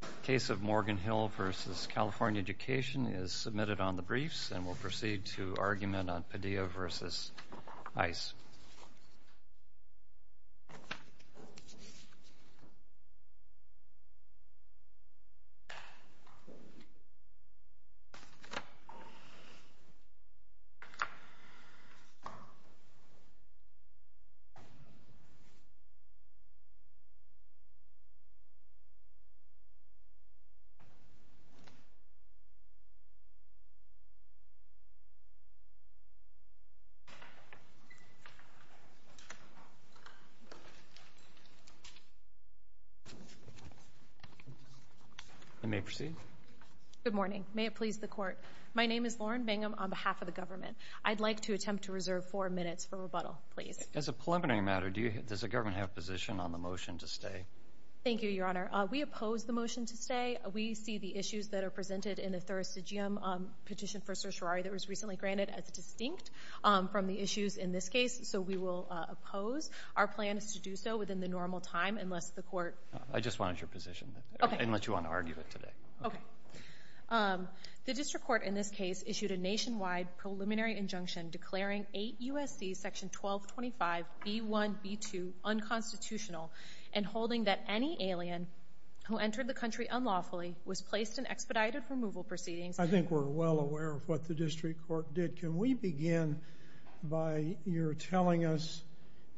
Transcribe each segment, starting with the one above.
The case of Morgan Hill v. California Education is submitted on the briefs, and we'll proceed to argument on Padilla v. ICE. LOREN BANGUM Good morning. May it please the Court, my name is Loren Bangum on behalf of the government. I'd like to attempt to reserve four minutes for rebuttal, please. As a preliminary matter, does the government have a position on the motion to stay? Thank you, Your Honor. We oppose the motion to stay. We see the issues that are presented in the thursdigium petition for certiorari that was recently granted as distinct from the issues in this case, so we will oppose. Our plan is to do so within the normal time, unless the Court... I just wanted your position. Okay. Unless you want to argue it today. Okay. The district court in this case issued a nationwide preliminary injunction declaring 8 U.S.C. § 1225 B.1.B.2 unconstitutional and holding that any alien who entered the country unlawfully was placed in expedited removal proceedings. I think we're well aware of what the district court did. Can we begin by your telling us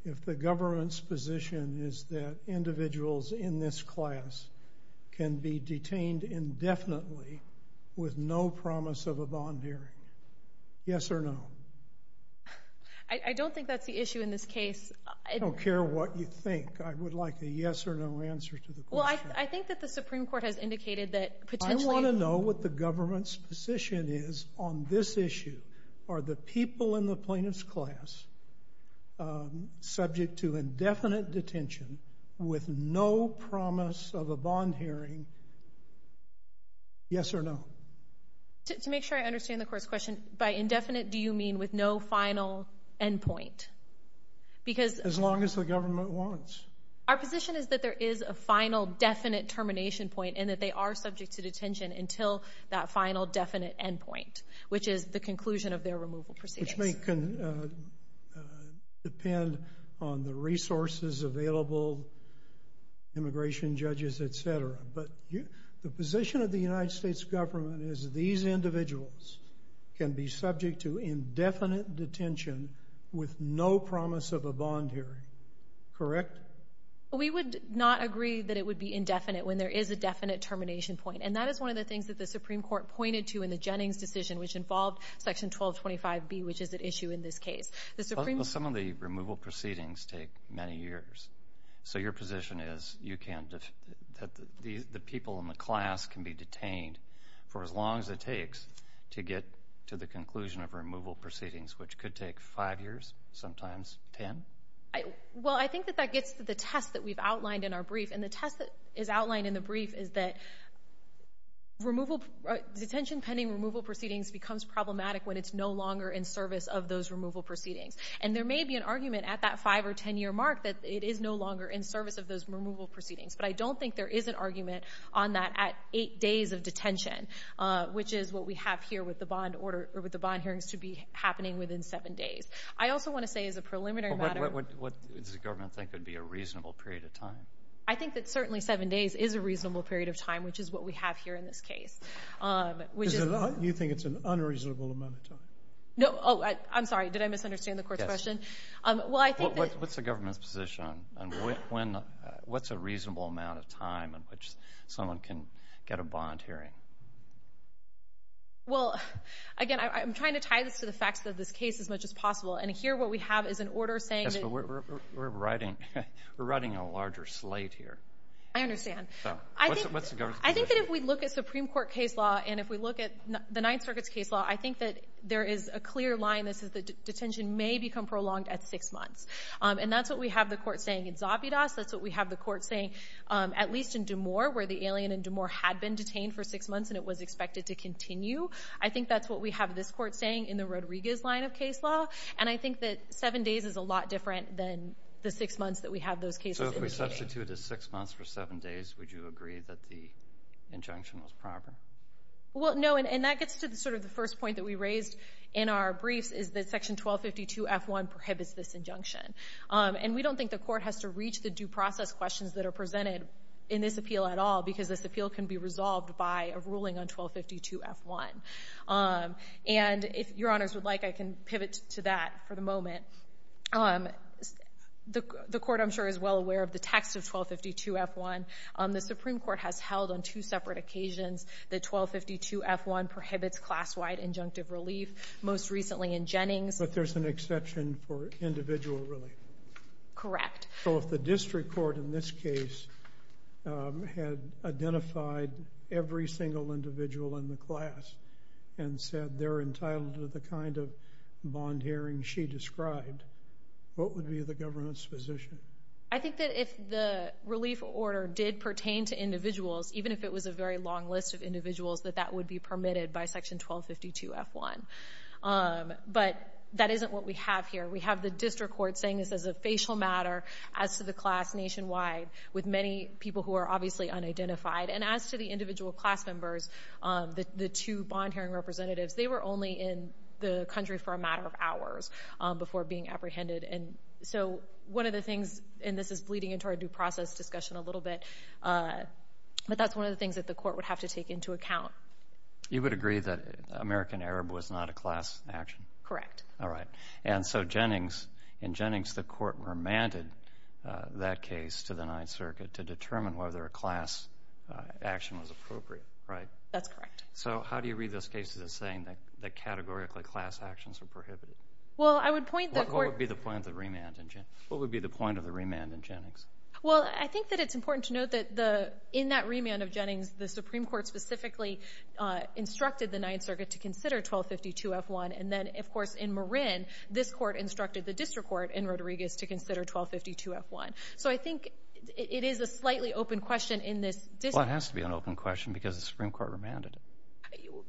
if the government's position is that individuals in this class can be detained indefinitely with no promise of a bond hearing? Yes or no? I don't think that's the issue in this case. I don't care what you think. I would like a yes or no answer to the question. Well, I think that the Supreme Court has indicated that potentially... If the government's position is on this issue, are the people in the plaintiff's class subject to indefinite detention with no promise of a bond hearing, yes or no? To make sure I understand the Court's question, by indefinite do you mean with no final endpoint? Because... As long as the government wants. Our position is that there is a final definite termination point and that they are subject to detention until that final definite endpoint, which is the conclusion of their removal proceedings. This may depend on the resources available, immigration judges, etc. But the position of the United States government is these individuals can be subject to indefinite detention with no promise of a bond hearing, correct? We would not agree that it would be indefinite when there is a definite termination point. And that is one of the things that the Supreme Court pointed to in the Jennings decision, which involved Section 1225B, which is at issue in this case. Some of the removal proceedings take many years. So your position is that the people in the class can be detained for as long as it takes to get to the conclusion of removal proceedings, which could take five years, sometimes ten? Well, I think that that gets to the test that we've outlined in our brief. And the test that is outlined in the brief is that detention pending removal proceedings becomes problematic when it's no longer in service of those removal proceedings. And there may be an argument at that five or ten year mark that it is no longer in service of those removal proceedings. But I don't think there is an argument on that at eight days of detention, which is what we have here with the bond hearings to be happening within seven days. I also want to say as a preliminary matter— What does the government think would be a reasonable period of time? I think that certainly seven days is a reasonable period of time, which is what we have here in this case. You think it's an unreasonable amount of time? No. Oh, I'm sorry. Did I misunderstand the Court's question? Yes. Well, I think that— What's the government's position on when—what's a reasonable amount of time in which someone can get a bond hearing? Well, again, I'm trying to tie this to the facts of this case as much as possible. And here what we have is an order saying that— Yes, but we're writing a larger slate here. I understand. So, what's the government's position? I think that if we look at Supreme Court case law and if we look at the Ninth Circuit's case law, I think that there is a clear line that says that detention may become prolonged at six months. And that's what we have the Court saying in Zabidas. That's what we have the Court saying, at least, in D'Amour, where the alien in D'Amour had been detained for six months and it was expected to continue. I think that's what we have this Court saying in the Rodriguez line of case law. And I think that seven days is a lot different than the six months that we have those cases in the game. So, if we substitute a six months for seven days, would you agree that the injunction was proper? Well, no, and that gets to sort of the first point that we raised in our briefs, is that Section 1252-F1 prohibits this injunction. And we don't think the Court has to reach the due process questions that are presented in this appeal at all because this appeal can be resolved by a ruling on 1252-F1. And if Your Honors would like, I can pivot to that for the moment. The Court, I'm sure, is well aware of the text of 1252-F1. The Supreme Court has held on two separate occasions that 1252-F1 prohibits class-wide injunctive relief, most recently in Jennings. But there's an exception for individual relief? Correct. So, if the district court in this case had identified every single individual in the class and said they're entitled to the kind of bond hearing she described, what would be the government's position? I think that if the relief order did pertain to individuals, even if it was a very long list of individuals, that that would be permitted by Section 1252-F1. But that isn't what we have here. We have the district court saying this is a facial matter as to the class nationwide with many people who are obviously unidentified. And as to the individual class members, the two bond hearing representatives, they were only in the country for a matter of hours before being apprehended. And so, one of the things, and this is bleeding into our due process discussion a little bit, but that's one of the things that the Court would have to take into account. You would agree that American Arab was not a class action? Correct. All right. And so, in Jennings, the Court remanded that case to the Ninth Circuit to determine whether a class action was appropriate, right? That's correct. So, how do you read those cases as saying that categorically class actions are prohibited? Well, I would point the Court — What would be the point of the remand in Jennings? Well, I think that it's important to note that in that remand of Jennings, the Supreme Court specifically instructed the Ninth Circuit to consider 1252-F1. And then, of course, in Marin, this Court instructed the district court in Rodriguez to consider 1252-F1. So, I think it is a slightly open question in this district — Well, it has to be an open question because the Supreme Court remanded it.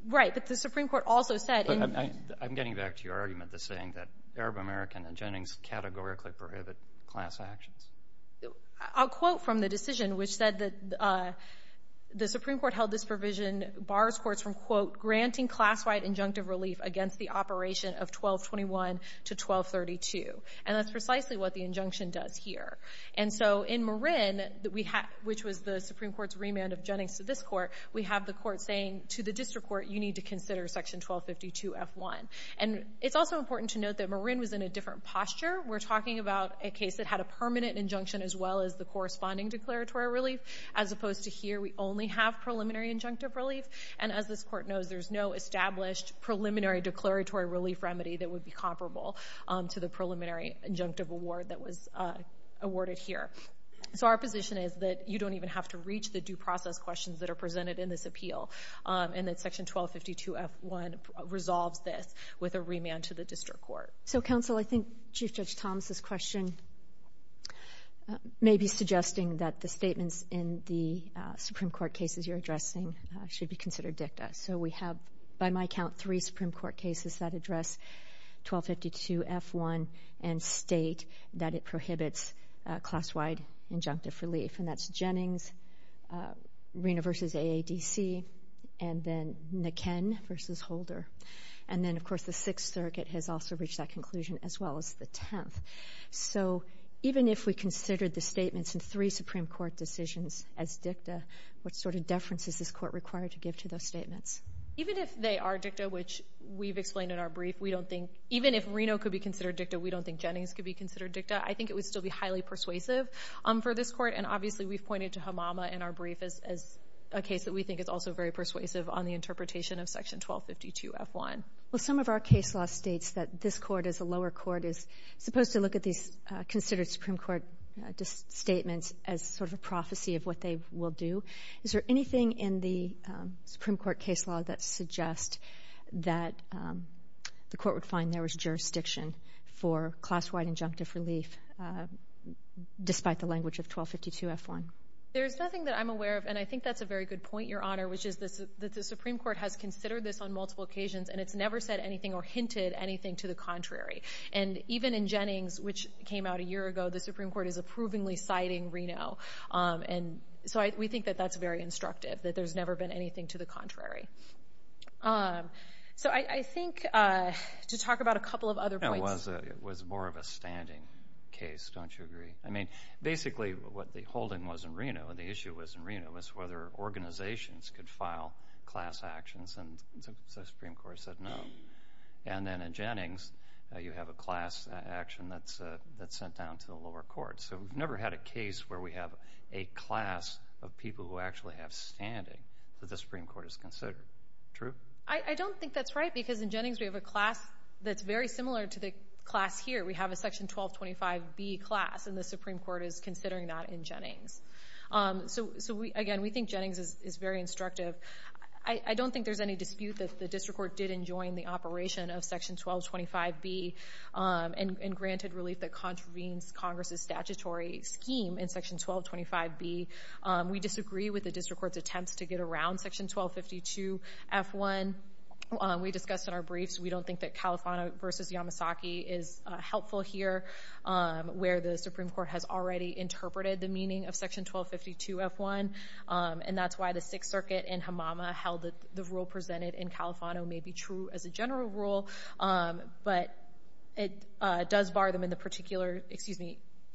Right. But the Supreme Court also said — I'm getting back to your argument that saying that Arab American and Jennings categorically prohibit class actions. I'll quote from the decision, which said that the Supreme Court held this provision bars courts from, quote, granting class-wide injunctive relief against the operation of 1221 to 1232. And that's precisely what the injunction does here. And so, in Marin, which was the Supreme Court's remand of Jennings to this Court, we have the Court saying to the district court, you need to consider section 1252-F1. And it's also important to note that Marin was in a different posture. We're talking about a case that had a permanent injunction as well as the corresponding declaratory relief. As opposed to here, we only have preliminary injunctive relief. And as this Court knows, there's no established preliminary declaratory relief remedy that would be comparable to the preliminary injunctive award that was awarded here. So our position is that you don't even have to reach the due process questions that are presented in this appeal and that section 1252-F1 resolves this with a remand to the district court. So, counsel, I think Chief Judge Thomas's question may be suggesting that the statements in the Supreme Court cases you're addressing should be considered dicta. So we have, by my count, three Supreme Court cases that address 1252-F1 and state that it prohibits class-wide injunctive relief. And that's Jennings, Reno v. AADC, and then McKenn v. Holder. And then, of course, the Sixth Circuit has also reached that conclusion as well as the Tenth. So even if we considered the statements in three Supreme Court decisions as dicta, what sort of deference is this Court required to give to those statements? Even if they are dicta, which we've explained in our brief, even if Reno could be considered dicta, we don't think Jennings could be considered dicta, I think it would still be highly persuasive for this Court. And, obviously, we've pointed to Hamama in our brief as a case that we think is also very persuasive on the interpretation of section 1252-F1. Well, some of our case law states that this Court, as a lower court, is supposed to look at these considered Supreme Court statements as sort of a prophecy of what they will do. Is there anything in the Supreme Court case law that suggests that the Court would find there was jurisdiction for class-wide injunctive relief, despite the language of 1252-F1? There's nothing that I'm aware of, and I think that's a very good point, Your Honor, which is that the Supreme Court has considered this on multiple occasions, and it's never said anything or hinted anything to the contrary. And even in Jennings, which came out a year ago, the Supreme Court is approvingly citing Reno. And so we think that that's very instructive, that there's never been anything to the contrary. So I think, to talk about a couple of other points. It was more of a standing case, don't you agree? I mean, basically, what the holding was in Reno, and the issue was in Reno, was whether organizations could file class actions, and the Supreme Court said no. And then in Jennings, you have a class action that's sent down to the lower court. So we've never had a case where we have a class of people who actually have standing that the Supreme Court has considered. True? I don't think that's right, because in Jennings we have a class that's very similar to the class here. We have a Section 1225B class, and the Supreme Court is considering that in Jennings. So, again, we think Jennings is very instructive. I don't think there's any dispute that the district court did enjoin the operation of Section 1225B and granted relief that contravenes Congress's statutory scheme in Section 1225B. We disagree with the district court's attempts to get around Section 1252F1. We discussed in our briefs, we don't think that Califano v. Yamasaki is helpful here, where the Supreme Court has already interpreted the meaning of Section 1252F1, and that's why the Sixth Circuit in Hamama held that the rule presented in Califano may be true as a general rule. But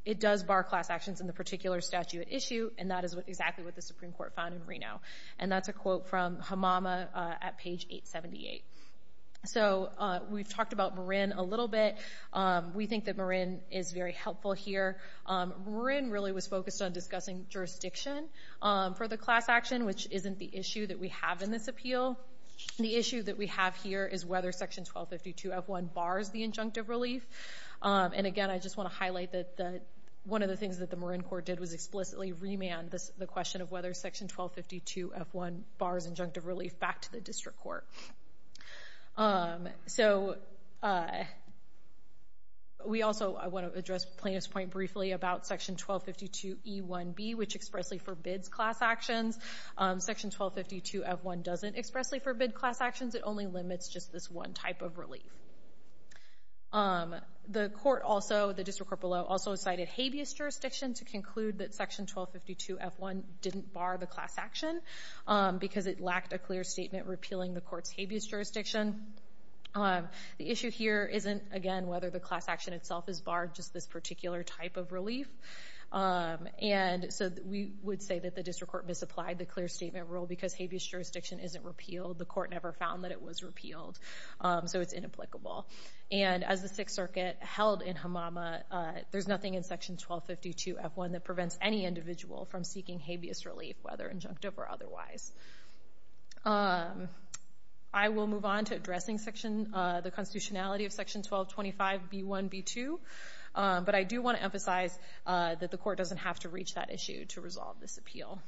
it does bar class actions in the particular statute at issue, and that is exactly what the Supreme Court found in Reno. And that's a quote from Hamama at page 878. So we've talked about Marin a little bit. We think that Marin is very helpful here. Marin really was focused on discussing jurisdiction for the class action, which isn't the issue that we have in this appeal. The issue that we have here is whether Section 1252F1 bars the injunctive relief. And, again, I just want to highlight that one of the things that the Marin court did was explicitly remand the question of whether Section 1252F1 bars injunctive relief back to the district court. So we also want to address Plaintiff's point briefly about Section 1252E1B, which expressly forbids class actions. Section 1252F1 doesn't expressly forbid class actions. It only limits just this one type of relief. The court also, the district court below, also cited habeas jurisdiction to conclude that Section 1252F1 didn't bar the class action because it lacked a clear statement repealing the court's habeas jurisdiction. The issue here isn't, again, whether the class action itself is barred, just this particular type of relief. And so we would say that the district court misapplied the clear statement rule because habeas jurisdiction isn't repealed. The court never found that it was repealed, so it's inapplicable. And as the Sixth Circuit held in Hamama, there's nothing in Section 1252F1 that prevents any individual from seeking habeas relief, whether injunctive or otherwise. I will move on to addressing the constitutionality of Section 1225B1B2, but I do want to emphasize that the court doesn't have to reach that issue to resolve this appeal.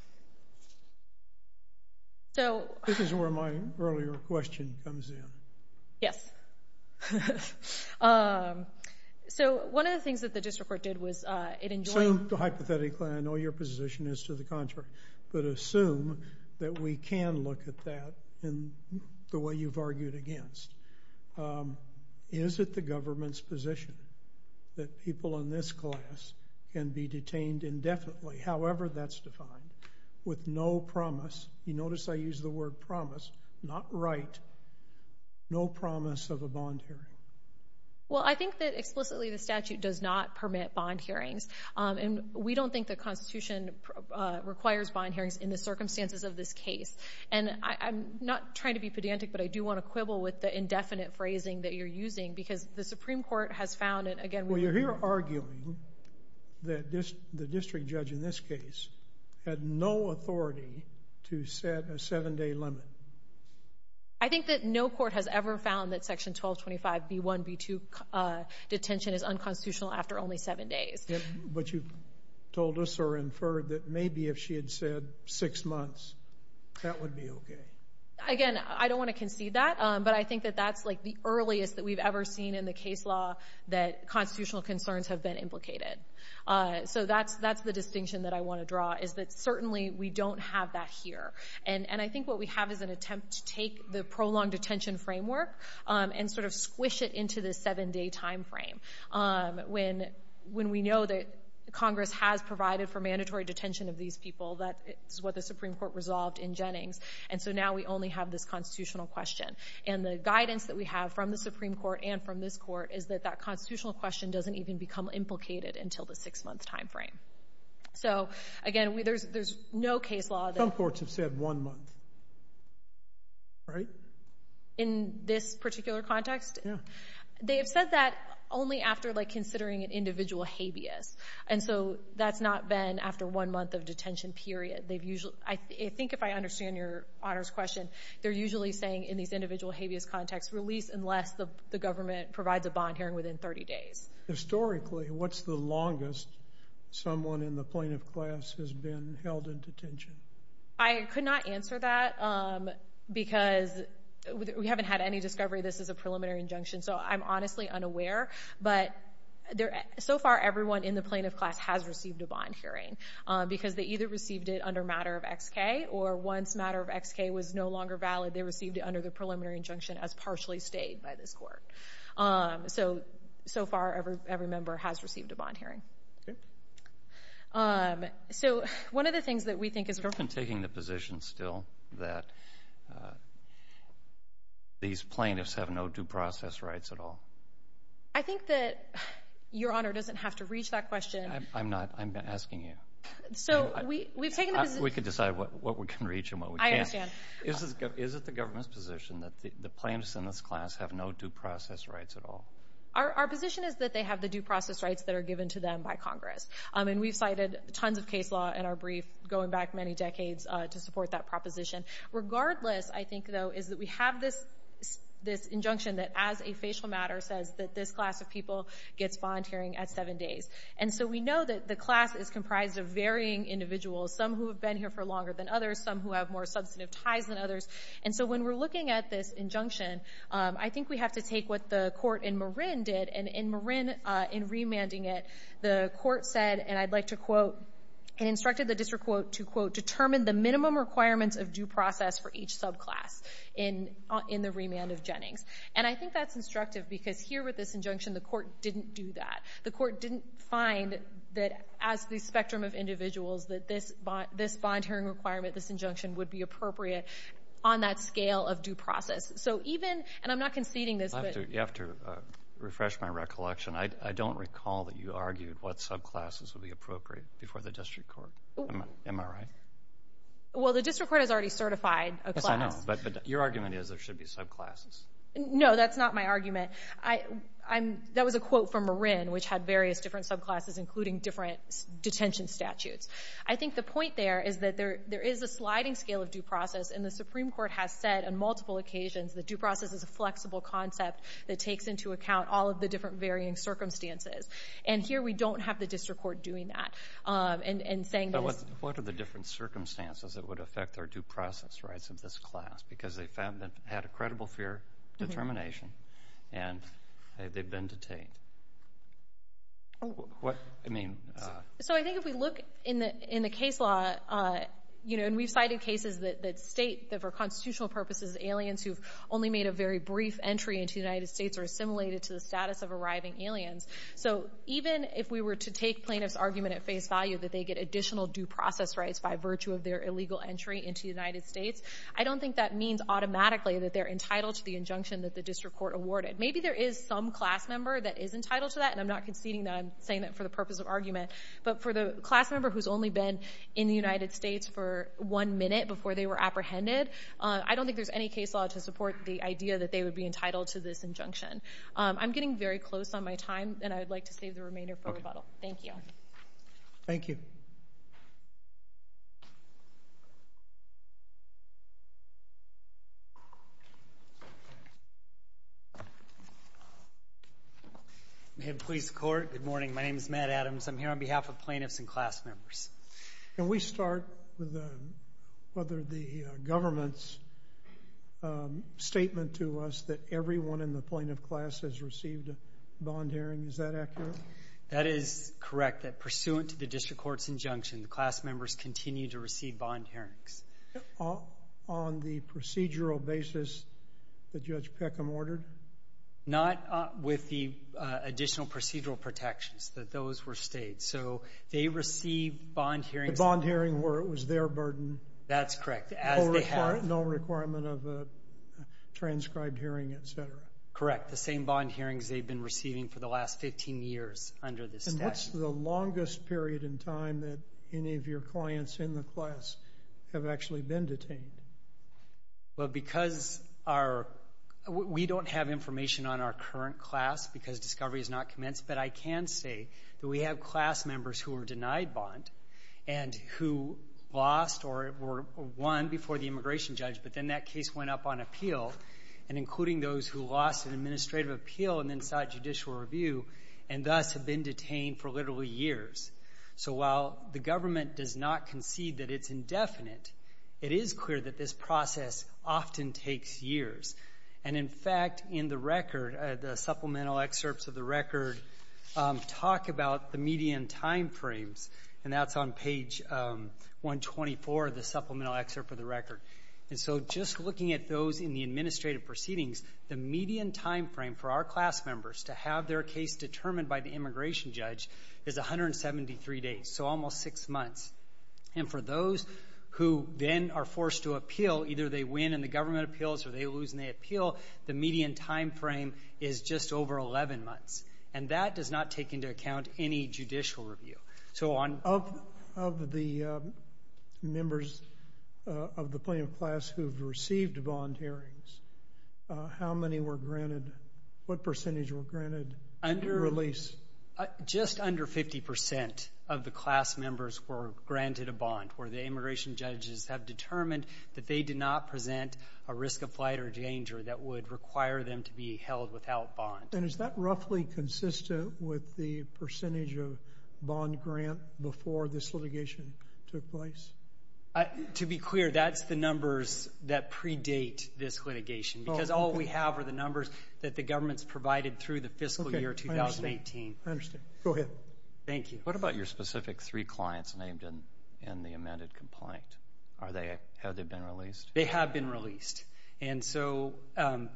This is where my earlier question comes in. Yes. So one of the things that the district court did was it enjoyed Assume hypothetically, I know your position is to the contrary, but assume that we can look at that in the way you've argued against. Is it the government's position that people in this class can be detained indefinitely, however that's defined, with no promise? You notice I use the word promise. Not right. No promise of a bond hearing. Well, I think that explicitly the statute does not permit bond hearings, and we don't think the Constitution requires bond hearings in the circumstances of this case. And I'm not trying to be pedantic, but I do want to quibble with the indefinite phrasing that you're using, because the Supreme Court has found it, again, Well, you're here arguing that the district judge in this case had no authority to set a seven-day limit. I think that no court has ever found that Section 1225B1B2 detention is unconstitutional after only seven days. But you've told us or inferred that maybe if she had said six months, that would be okay. Again, I don't want to concede that, but I think that that's like the earliest that we've ever seen in the case law that constitutional concerns have been implicated. So that's the distinction that I want to draw, is that certainly we don't have that here. And I think what we have is an attempt to take the prolonged detention framework and sort of squish it into the seven-day time frame. When we know that Congress has provided for mandatory detention of these people, that is what the Supreme Court resolved in Jennings. And so now we only have this constitutional question. And the guidance that we have from the Supreme Court and from this court is that that constitutional question doesn't even become implicated until the six-month time frame. So, again, there's no case law that— Some courts have said one month, right? In this particular context? Yeah. They have said that only after, like, considering an individual habeas. And so that's not been after one month of detention period. I think if I understand Your Honor's question, they're usually saying in these individual habeas contexts, release unless the government provides a bond hearing within 30 days. Historically, what's the longest someone in the plaintiff class has been held in detention? I could not answer that because we haven't had any discovery. This is a preliminary injunction, so I'm honestly unaware. But so far, everyone in the plaintiff class has received a bond hearing because they either received it under matter of XK or once matter of XK was no longer valid, they received it under the preliminary injunction as partially stayed by this court. So, so far, every member has received a bond hearing. So one of the things that we think is— Have we been taking the position still that these plaintiffs have no due process rights at all? I think that Your Honor doesn't have to reach that question. I'm not. I'm asking you. So we've taken the position— We can decide what we can reach and what we can't. I understand. Is it the government's position that the plaintiffs in this class have no due process rights at all? Our position is that they have the due process rights that are given to them by Congress. And we've cited tons of case law in our brief going back many decades to support that proposition. Regardless, I think, though, is that we have this injunction that as a facial matter says that this class of people gets bond hearing at seven days. And so we know that the class is comprised of varying individuals, some who have been here for longer than others, some who have more substantive ties than others. And so when we're looking at this injunction, I think we have to take what the court in Marin did. And in Marin, in remanding it, the court said, and I'd like to quote, it instructed the district to, quote, determine the minimum requirements of due process for each subclass in the remand of Jennings. And I think that's instructive because here with this injunction, the court didn't do that. The court didn't find that as the spectrum of individuals that this bond hearing requirement, this injunction, would be appropriate on that scale of due process. So even—and I'm not conceding this, but— In my recollection, I don't recall that you argued what subclasses would be appropriate before the district court. Am I right? Well, the district court has already certified a class. Yes, I know. But your argument is there should be subclasses. No, that's not my argument. That was a quote from Marin, which had various different subclasses, including different detention statutes. I think the point there is that there is a sliding scale of due process, and the Supreme Court has said on multiple occasions that due process is a flexible concept that takes into account all of the different varying circumstances. And here we don't have the district court doing that and saying that it's— But what are the different circumstances that would affect their due process rights of this class? Because they found that they had a credible fear determination, and they've been detained. What—I mean— So I think if we look in the case law, you know, and we've cited cases that state that for constitutional purposes, aliens who've only made a very brief entry into the United States are assimilated to the status of arriving aliens. So even if we were to take plaintiffs' argument at face value that they get additional due process rights by virtue of their illegal entry into the United States, I don't think that means automatically that they're entitled to the injunction that the district court awarded. Maybe there is some class member that is entitled to that, and I'm not conceding that. I'm saying that for the purpose of argument. But for the class member who's only been in the United States for one minute before they were apprehended, I don't think there's any case law to support the idea that they would be entitled to this injunction. I'm getting very close on my time, and I would like to save the remainder for rebuttal. Thank you. Thank you. Mayor of the Police Court, good morning. My name is Matt Adams. I'm here on behalf of plaintiffs and class members. Can we start with whether the government's statement to us that everyone in the plaintiff class has received a bond hearing, is that accurate? That is correct, that pursuant to the district court's injunction, the class members continue to receive bond hearings. On the procedural basis that Judge Peckham ordered? Not with the additional procedural protections, that those were stayed. So they receive bond hearings. A bond hearing where it was their burden. That's correct, as they have. No requirement of a transcribed hearing, et cetera. Correct, the same bond hearings they've been receiving for the last 15 years under this statute. And what's the longest period in time that any of your clients in the class have actually been detained? Well, because we don't have information on our current class because discovery has not commenced, but I can say that we have class members who were denied bond and who lost or were won before the immigration judge, but then that case went up on appeal, and including those who lost in administrative appeal and then sought judicial review and thus have been detained for literally years. So while the government does not concede that it's indefinite, it is clear that this process often takes years. And, in fact, in the record, the supplemental excerpts of the record talk about the median time frames, and that's on page 124 of the supplemental excerpt of the record. And so just looking at those in the administrative proceedings, the median time frame for our class members to have their case determined by the immigration judge is 173 days, so almost six months. And for those who then are forced to appeal, either they win in the government appeals or they lose in the appeal, the median time frame is just over 11 months. And that does not take into account any judicial review. So on... Of the members of the plaintiff class who have received bond hearings, how many were granted? What percentage were granted release? Just under 50% of the class members were granted a bond, where the immigration judges have determined that they did not present a risk of flight or danger that would require them to be held without bond. And is that roughly consistent with the percentage of bond grant before this litigation took place? To be clear, that's the numbers that predate this litigation, because all we have are the numbers that the government's provided through the fiscal year 2018. I understand. Go ahead. Thank you. What about your specific three clients named in the amended complaint? Have they been released? They have been released. And so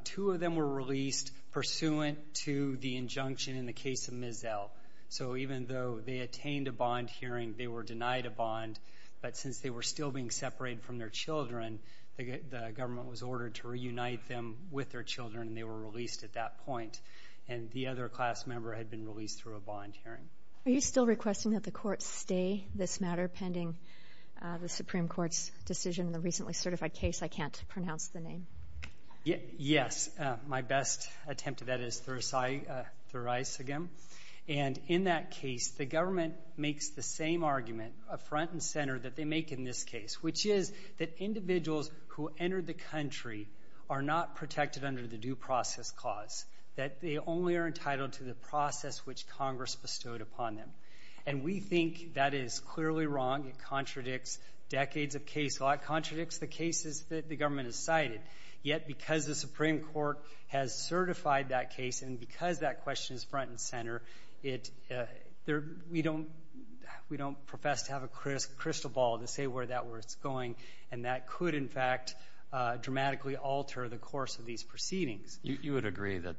two of them were released pursuant to the injunction in the case of Ms. L. So even though they attained a bond hearing, they were denied a bond, but since they were still being separated from their children, the government was ordered to reunite them with their children, and they were released at that point. And the other class member had been released through a bond hearing. Are you still requesting that the courts stay this matter pending the Supreme Court's decision in the recently certified case? I can't pronounce the name. Yes. My best attempt at that is Thurisigam. And in that case, the government makes the same argument, a front and center that they make in this case, which is that individuals who enter the country are not protected under the due process clause, that they only are entitled to the process which Congress bestowed upon them. And we think that is clearly wrong. It contradicts decades of case law. It contradicts the cases that the government has cited. Yet, because the Supreme Court has certified that case and because that question is front and center, we don't profess to have a crystal ball to say where that is going, and that could, in fact, dramatically alter the course of these proceedings. You would agree that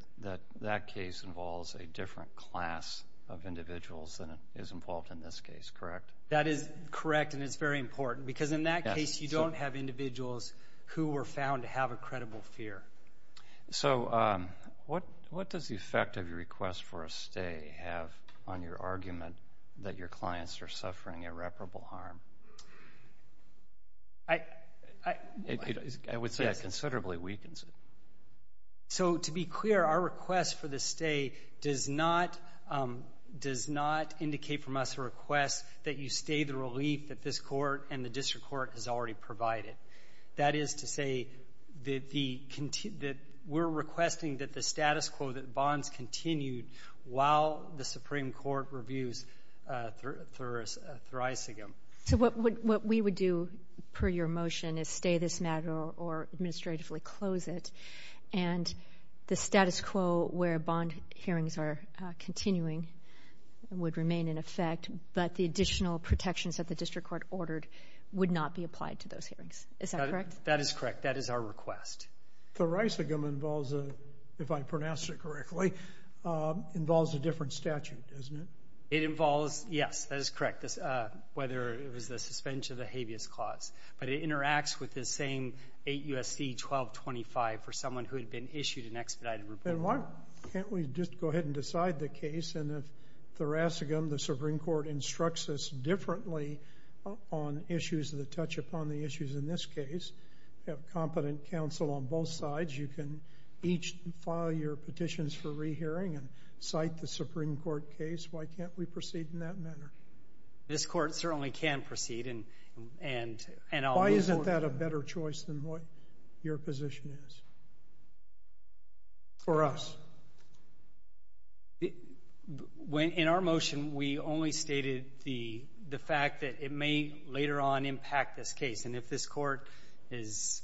that case involves a different class of individuals than is involved in this case, correct? That is correct, and it's very important, because in that case you don't have individuals who were found to have a credible fear. So what does the effect of your request for a stay have on your argument that your clients are suffering irreparable harm? I would say it considerably weakens it. So to be clear, our request for the stay does not indicate from us a request that you stay the relief that this Court and the district court has already provided. That is to say that we're requesting that the status quo, that bonds continue while the Supreme Court reviews Thurisigam. So what we would do per your motion is stay this matter or administratively close it, and the status quo where bond hearings are continuing would remain in effect, but the additional protections that the district court ordered would not be applied to those hearings. Is that correct? That is correct. That is our request. Thurisigam involves, if I pronounced it correctly, involves a different statute, doesn't it? It involves, yes, that is correct, whether it was the suspension of the habeas clause, but it interacts with the same 8 U.S.C. 1225 for someone who had been issued an expedited report. Then why can't we just go ahead and decide the case? And if Thurisigam, the Supreme Court, instructs us differently on issues that touch upon the issues in this case, we have competent counsel on both sides. You can each file your petitions for rehearing and cite the Supreme Court case. Why can't we proceed in that manner? This Court certainly can proceed. Why isn't that a better choice than what your position is for us? In our motion, we only stated the fact that it may later on impact this case, and if this Court is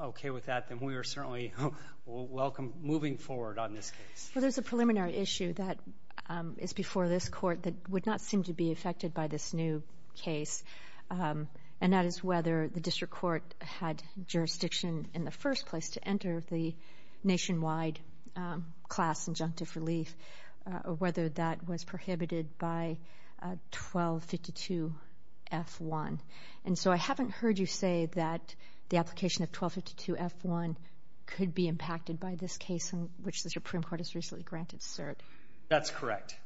okay with that, then we are certainly welcome moving forward on this case. Well, there's a preliminary issue that is before this Court that would not seem to be affected by this new case, and that is whether the district court had jurisdiction in the first place to enter the nationwide class injunctive relief or whether that was prohibited by 1252F1. And so I haven't heard you say that the application of 1252F1 could be impacted by this case in which the Supreme Court has recently granted cert. That's correct.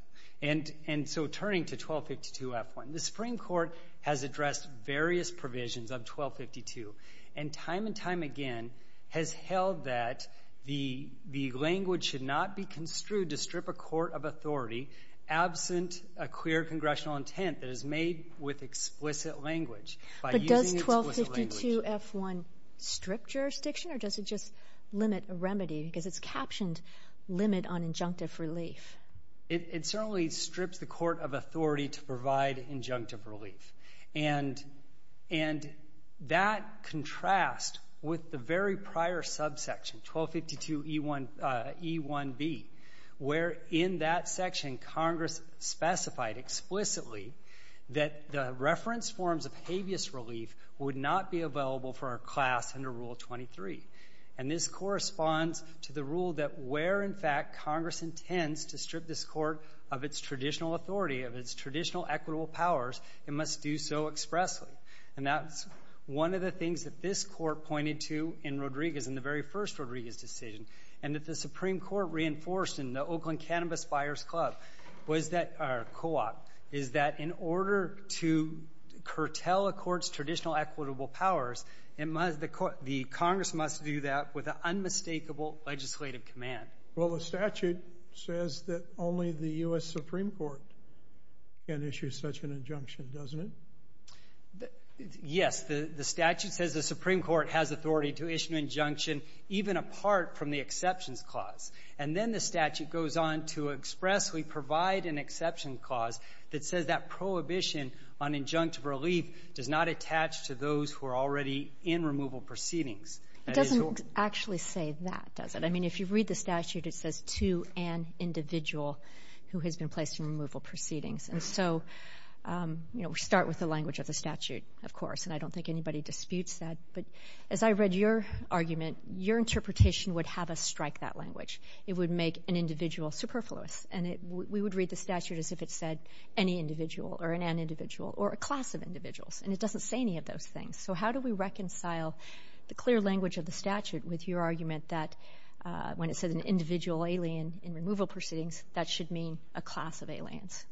And so turning to 1252F1, the Supreme Court has addressed various provisions of 1252 and time and time again has held that the language should not be construed to strip a court of authority absent a clear congressional intent that is made with explicit language. But does 1252F1 strip jurisdiction, or does it just limit a remedy because it's captioned limit on injunctive relief? It certainly strips the court of authority to provide injunctive relief. And that contrasts with the very prior subsection, 1252E1B, where in that section, Congress specified explicitly that the reference forms of habeas relief would not be available for our class under Rule 23. And this corresponds to the rule that where, in fact, Congress intends to strip this court of its traditional authority, of its traditional equitable powers, it must do so expressly. And that's one of the things that this court pointed to in Rodriguez in the very first Rodriguez decision and that the Supreme Court reinforced in the Oakland Cannabis Buyers' Co-op, or co-op, is that in order to curtail a court's traditional equitable powers, the Congress must do that with an unmistakable legislative command. Well, the statute says that only the U.S. Supreme Court can issue such an injunction, doesn't it? Yes. The statute says the Supreme Court has authority to issue an injunction even apart from the exceptions clause. And then the statute goes on to expressly provide an exception clause that says that prohibition on injunctive relief does not attach to those who are already in removal proceedings. It doesn't actually say that, does it? I mean, if you read the statute, it says to an individual who has been placed in removal proceedings. And so, you know, we start with the language of the statute, of course, and I don't think anybody disputes that. But as I read your argument, your interpretation would have us strike that language. It would make an individual superfluous. And we would read the statute as if it said any individual or an an individual or a class of individuals, and it doesn't say any of those things. So how do we reconcile the clear language of the statute with your argument that when it says an individual alien in removal proceedings, that should mean a class of aliens?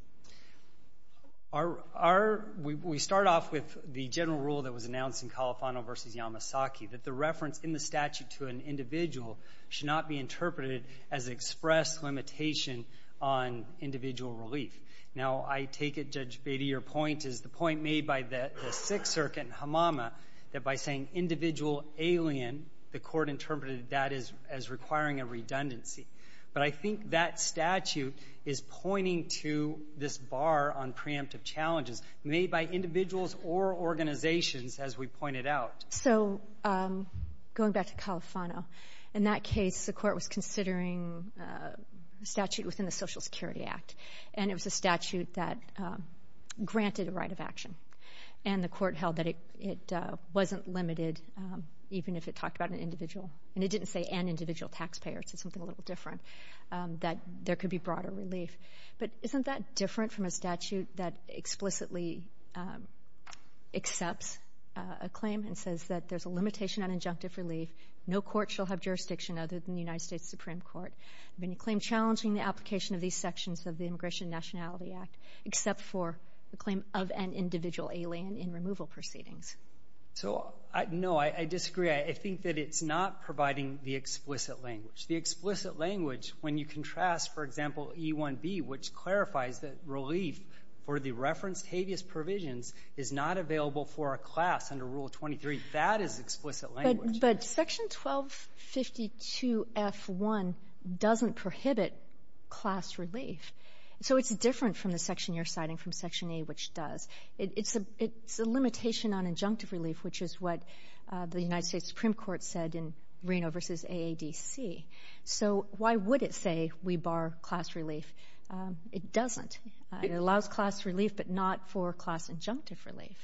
We start off with the general rule that was announced in Califano v. Yamasaki, that the reference in the statute to an individual should not be interpreted as express limitation on individual relief. Now, I take it, Judge Batey, your point is the point made by the Sixth Circuit in Hamama that by saying individual alien, the court interpreted that as requiring a redundancy. But I think that statute is pointing to this bar on preemptive challenges made by individuals or organizations, as we pointed out. So going back to Califano, in that case, the court was considering a statute within the Social Security Act, and it was a statute that granted a right of action. And the court held that it wasn't limited, even if it talked about an individual. And it didn't say an individual taxpayer. It said something a little different, that there could be broader relief. But isn't that different from a statute that explicitly accepts a claim and says that there's a limitation on injunctive relief, no court shall have jurisdiction other than the United States Supreme Court, and a claim challenging the application of these sections of the Immigration and Nationality Act, except for the claim of an individual alien in removal proceedings? So, no, I disagree. I think that it's not providing the explicit language. The explicit language, when you contrast, for example, E1b, which clarifies that relief for the referenced habeas provisions is not available for a class under Rule 23, that is explicit language. But Section 1252f1 doesn't prohibit class relief. So it's different from the section you're citing from Section A, which does. It's a limitation on injunctive relief, which is what the United States Supreme Court said in Reno v. AADC. So why would it say we bar class relief? It doesn't. It allows class relief, but not for class injunctive relief.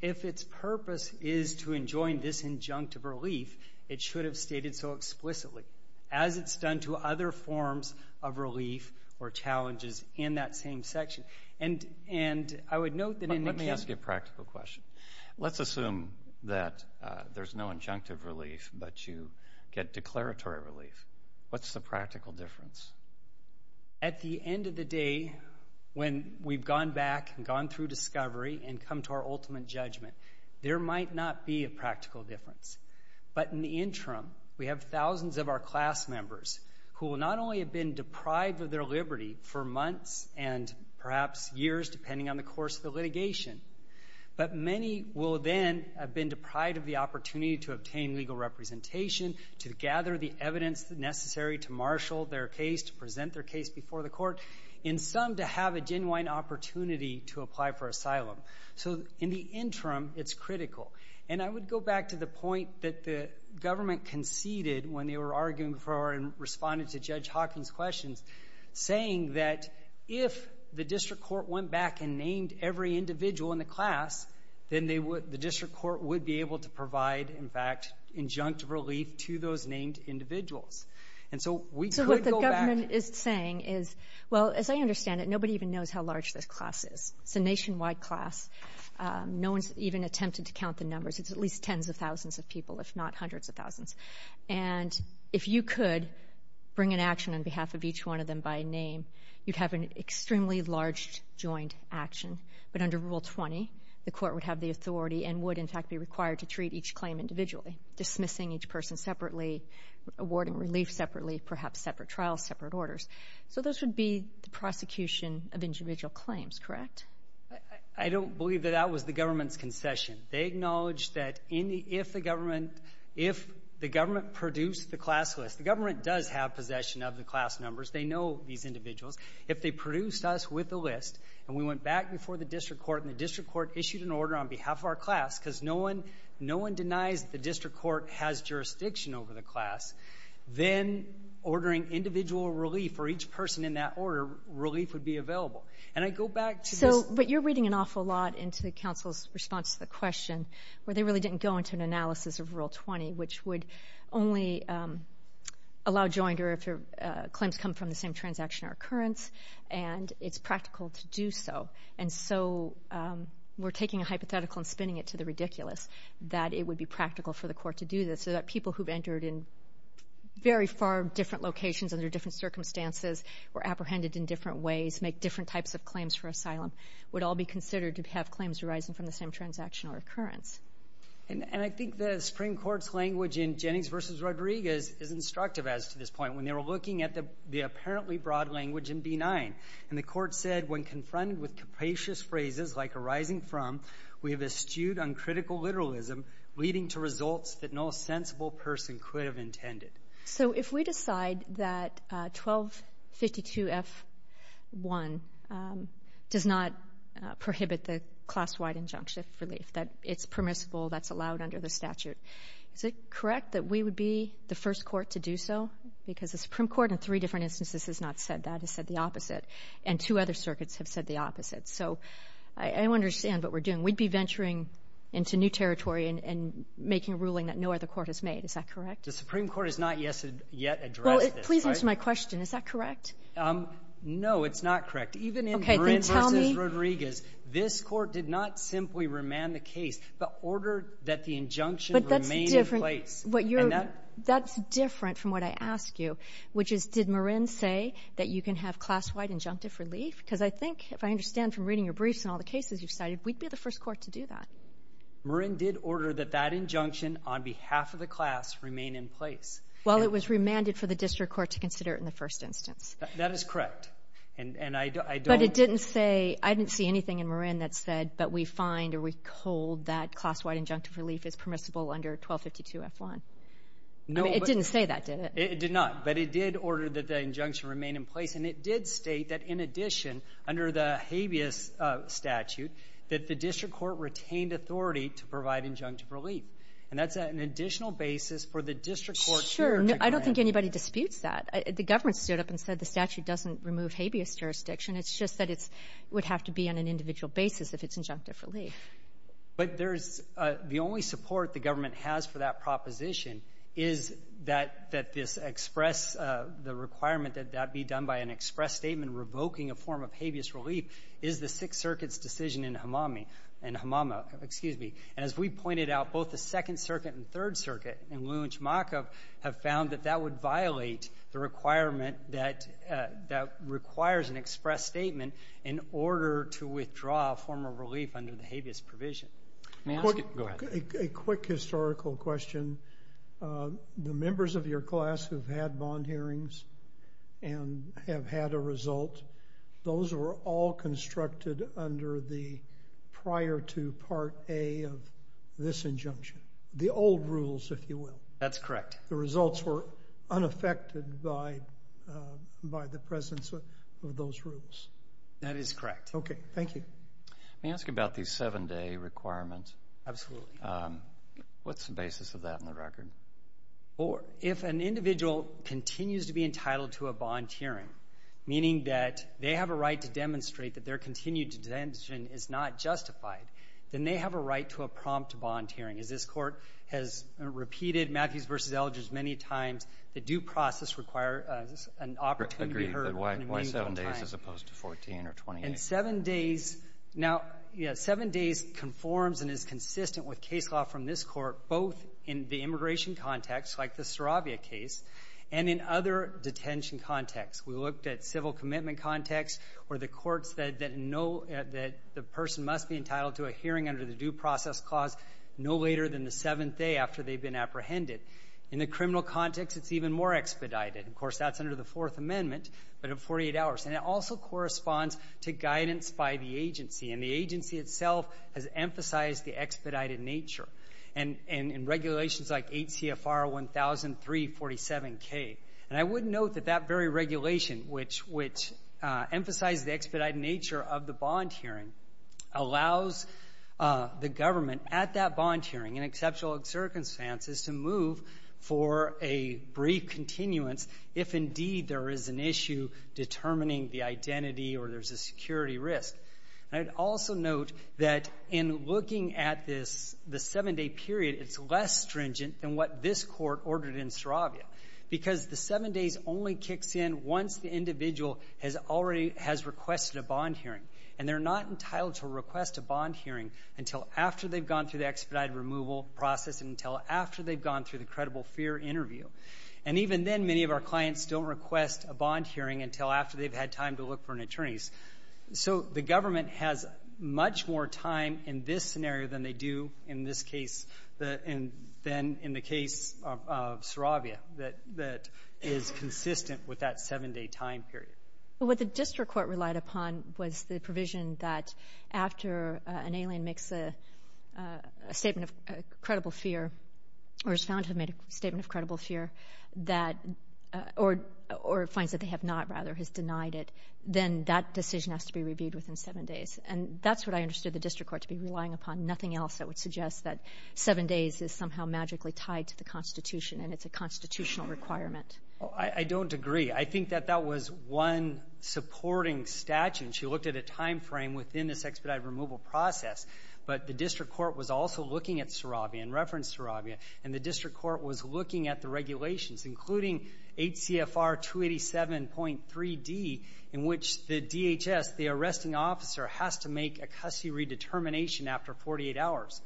If its purpose is to enjoin this injunctive relief, it should have stated so explicitly, as it's done to other forms of relief or challenges in that same section. Let me ask you a practical question. Let's assume that there's no injunctive relief, but you get declaratory relief. What's the practical difference? At the end of the day, when we've gone back and gone through discovery and come to our ultimate judgment, there might not be a practical difference. But in the interim, we have thousands of our class members who will not only have been perhaps years, depending on the course of the litigation, but many will then have been deprived of the opportunity to obtain legal representation, to gather the evidence necessary to marshal their case, to present their case before the court, and some to have a genuine opportunity to apply for asylum. So in the interim, it's critical. And I would go back to the point that the government conceded when they were arguing for and responded to Judge Hawkins' questions, saying that if the district court went back and named every individual in the class, then they would the district court would be able to provide, in fact, injunctive relief to those named individuals. And so we could go back to the court. So what the government is saying is, well, as I understand it, nobody even knows how large this class is. It's a nationwide class. No one's even attempted to count the numbers. It's at least tens of thousands of people, if not hundreds of thousands. And if you could bring an action on behalf of each one of them by name, you'd have an extremely large joint action. But under Rule 20, the court would have the authority and would, in fact, be required to treat each claim individually, dismissing each person separately, awarding relief separately, perhaps separate trials, separate orders. So this would be the prosecution of individual claims, correct? I don't believe that that was the government's concession. They acknowledged that if the government produced the class list. The government does have possession of the class numbers. They know these individuals. If they produced us with the list and we went back before the district court and the district court issued an order on behalf of our class, because no one denies the district court has jurisdiction over the class, then ordering individual relief for each person in that order, relief would be available. And I go back to this. We're reading an awful lot into the council's response to the question where they really didn't go into an analysis of Rule 20, which would only allow jointer if claims come from the same transaction or occurrence, and it's practical to do so. And so we're taking a hypothetical and spinning it to the ridiculous that it would be practical for the court to do this so that people who've entered in very far different locations under different circumstances, were apprehended in different ways, make different types of claims for asylum, would all be considered to have claims arising from the same transaction or occurrence. And I think the Supreme Court's language in Jennings v. Rodriguez is instructive as to this point. When they were looking at the apparently broad language in B-9, and the court said when confronted with capacious phrases like arising from, we have eschewed uncritical literalism, leading to results that no sensible person could have intended. So if we decide that 1252F1 does not prohibit the class-wide injunctive relief, that it's permissible, that's allowed under the statute, is it correct that we would be the first court to do so? Because the Supreme Court in three different instances has not said that. It said the opposite. And two other circuits have said the opposite. So I don't understand what we're doing. We'd be venturing into new territory and making a ruling that no other court has made. Is that correct? The Supreme Court has not yet addressed this, right? Well, please answer my question. Is that correct? No, it's not correct. Even in Marin v. Rodriguez, this Court did not simply remand the case, but ordered that the injunction remain in place. But that's different. And that — That's different from what I asked you, which is, did Marin say that you can have class-wide injunctive relief? Because I think, if I understand from reading your briefs and all the cases you've cited, we'd be the first court to do that. No. Marin did order that that injunction on behalf of the class remain in place. Well, it was remanded for the district court to consider it in the first instance. That is correct. And I don't — But it didn't say — I didn't see anything in Marin that said, but we find or we hold that class-wide injunctive relief is permissible under 1252f1. No, but — It didn't say that, did it? It did not. But it did order that the injunction remain in place. And it did state that, in addition, under the habeas statute, that the district court retained authority to provide injunctive relief. And that's an additional basis for the district court to require that. Sure. I don't think anybody disputes that. The government stood up and said the statute doesn't remove habeas jurisdiction. It's just that it's — it would have to be on an individual basis if it's injunctive relief. But there's — the only support the government has for that proposition is that that this express — the requirement that that be done by an express statement revoking a form of habeas relief is the Sixth Circuit's decision in Hamami — in Hamama — excuse me. And as we pointed out, both the Second Circuit and Third Circuit in Lujmakov have found that that would violate the requirement that — that requires an express statement in order to withdraw a form of relief under the habeas provision. May I ask — A quick historical question. The members of your class who've had bond hearings and have had a result, those were all constructed under the prior to Part A of this injunction. The old rules, if you will. That's correct. The results were unaffected by — by the presence of those rules. That is correct. Okay. Thank you. May I ask about the seven-day requirement? Absolutely. What's the basis of that in the record? Well, if an individual continues to be entitled to a bond hearing, meaning that they have a right to demonstrate that their continued detention is not justified, then they have a right to a prompt bond hearing. As this Court has repeated, Matthews v. Eldridge many times, the due process requires an opportunity to be heard in a meaningful time. Agreed. Why seven days as opposed to 14 or 28? In seven days — now, yeah, seven days conforms and is consistent with case law from this Court, both in the immigration context, like the Saravia case, and in other detention contexts. We looked at civil commitment contexts where the courts that know that the person must be entitled to a hearing under the due process clause no later than the seventh day after they've been apprehended. In the criminal context, it's even more expedited. Of course, that's under the guidance by the agency, and the agency itself has emphasized the expedited nature in regulations like 8 CFR 1003-47K. And I would note that that very regulation, which emphasized the expedited nature of the bond hearing, allows the government at that bond hearing in exceptional circumstances to move for a brief continuance if, indeed, there is an issue determining the identity or there's a security risk. And I'd also note that in looking at this, the seven-day period, it's less stringent than what this Court ordered in Saravia because the seven days only kicks in once the individual has requested a bond hearing, and they're not entitled to request a bond hearing until after they've gone through the expedited removal process and until after they've gone through the credible fear interview. And even then, many of our clients don't request a bond hearing until after they've had time to look for an attorney. So the government has much more time in this scenario than they do in this case than in the case of Saravia that is consistent with that seven-day time period. What the district court relied upon was the provision that after an alien makes a credible fear or is found to have made a statement of credible fear that or finds that they have not, rather, has denied it, then that decision has to be reviewed within seven days. And that's what I understood the district court to be relying upon. Nothing else that would suggest that seven days is somehow magically tied to the Constitution and it's a constitutional requirement. I don't agree. I think that that was one supporting statute. And she looked at a time frame within this expedited removal process. But the district court was also looking at Saravia and referenced Saravia. And the district court was looking at the regulations, including HCFR 287.3D, in which the DHS, the arresting officer, has to make a custody redetermination after 48 hours.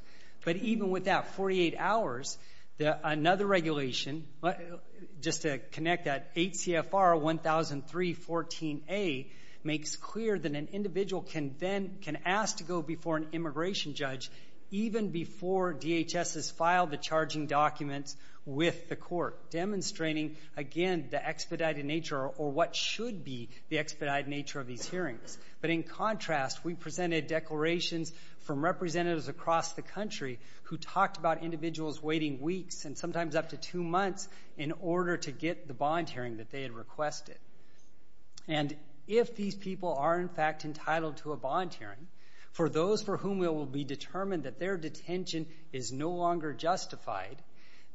But even with that 48 hours, another regulation, just to connect that, that an individual can ask to go before an immigration judge even before DHS has filed the charging documents with the court, demonstrating, again, the expedited nature or what should be the expedited nature of these hearings. But in contrast, we presented declarations from representatives across the country who talked about individuals waiting weeks and sometimes up to two months in order to get the bond hearing that they had requested. And if these people are, in fact, entitled to a bond hearing, for those for whom it will be determined that their detention is no longer justified,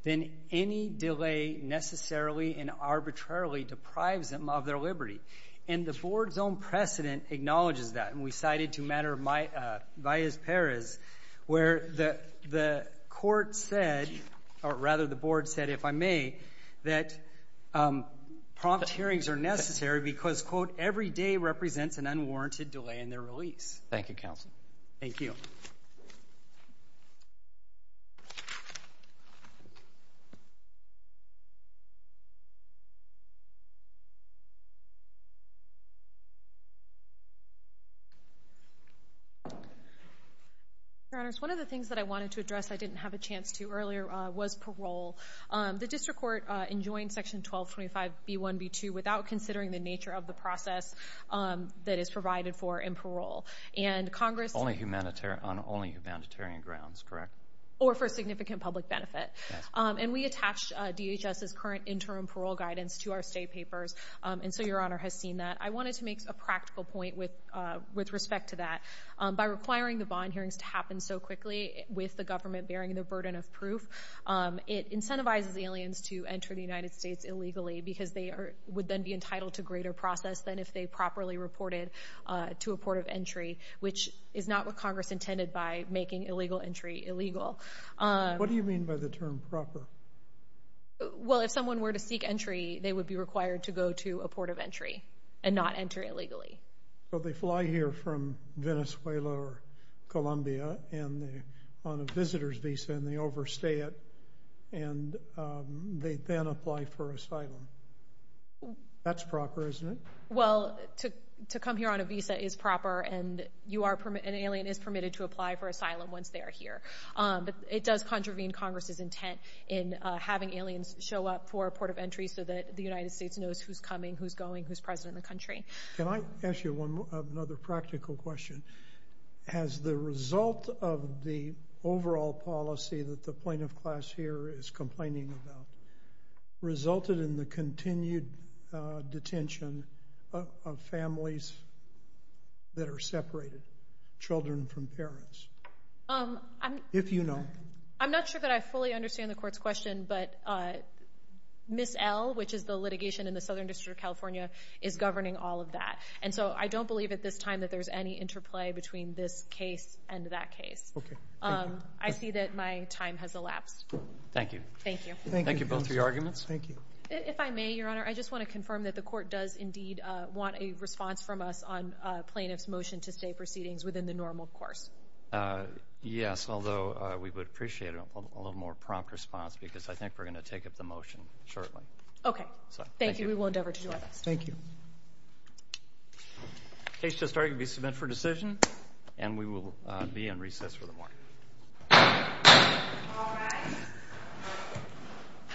then any delay necessarily and arbitrarily deprives them of their liberty. And the board's own precedent acknowledges that. And we cited, to a matter of my vias peris, where the court said, or rather the board said, if I may, that prompt hearings are necessary because, quote, every day represents an unwarranted delay in their release. Thank you, counsel. Thank you. Your Honors, one of the things that I wanted to address I didn't have a chance to address earlier was parole. The district court enjoined Section 1225B1B2 without considering the nature of the process that is provided for in parole. And Congress – On only humanitarian grounds, correct? Or for significant public benefit. And we attached DHS's current interim parole guidance to our state papers, and so Your Honor has seen that. I wanted to make a practical point with respect to that. By requiring the bond hearings to happen so quickly with the government bearing the burden of proof, it incentivizes aliens to enter the United States illegally because they would then be entitled to greater process than if they properly reported to a port of entry, which is not what Congress intended by making illegal entry illegal. What do you mean by the term proper? Well, if someone were to seek entry, they would be required to go to a port of entry and not enter illegally. Well, they fly here from Venezuela or Colombia on a visitor's visa and they overstay it, and they then apply for asylum. That's proper, isn't it? Well, to come here on a visa is proper, and an alien is permitted to apply for asylum once they are here. But it does contravene Congress's intent in having aliens show up for a port of entry so that the United States knows who's coming, who's going, who's president of the country. Can I ask you another practical question? Has the result of the overall policy that the plaintiff class here is complaining about resulted in the continued detention of families that are separated, children from parents, if you know? I'm not sure that I fully understand the court's question, but Ms. L., which is the litigation in the Southern District of California, is governing all of that. And so I don't believe at this time that there's any interplay between this case and that case. I see that my time has elapsed. Thank you. Thank you. Thank you both for your arguments. If I may, Your Honor, I just want to confirm that the court does indeed want a response from us on plaintiff's motion to stay proceedings within the normal course. Yes, although we would appreciate a little more prompt response because I think we're going to take up the motion shortly. OK. Thank you. We will endeavor to do that. Thank you. Case to start can be submitted for decision. And we will be in recess for the morning.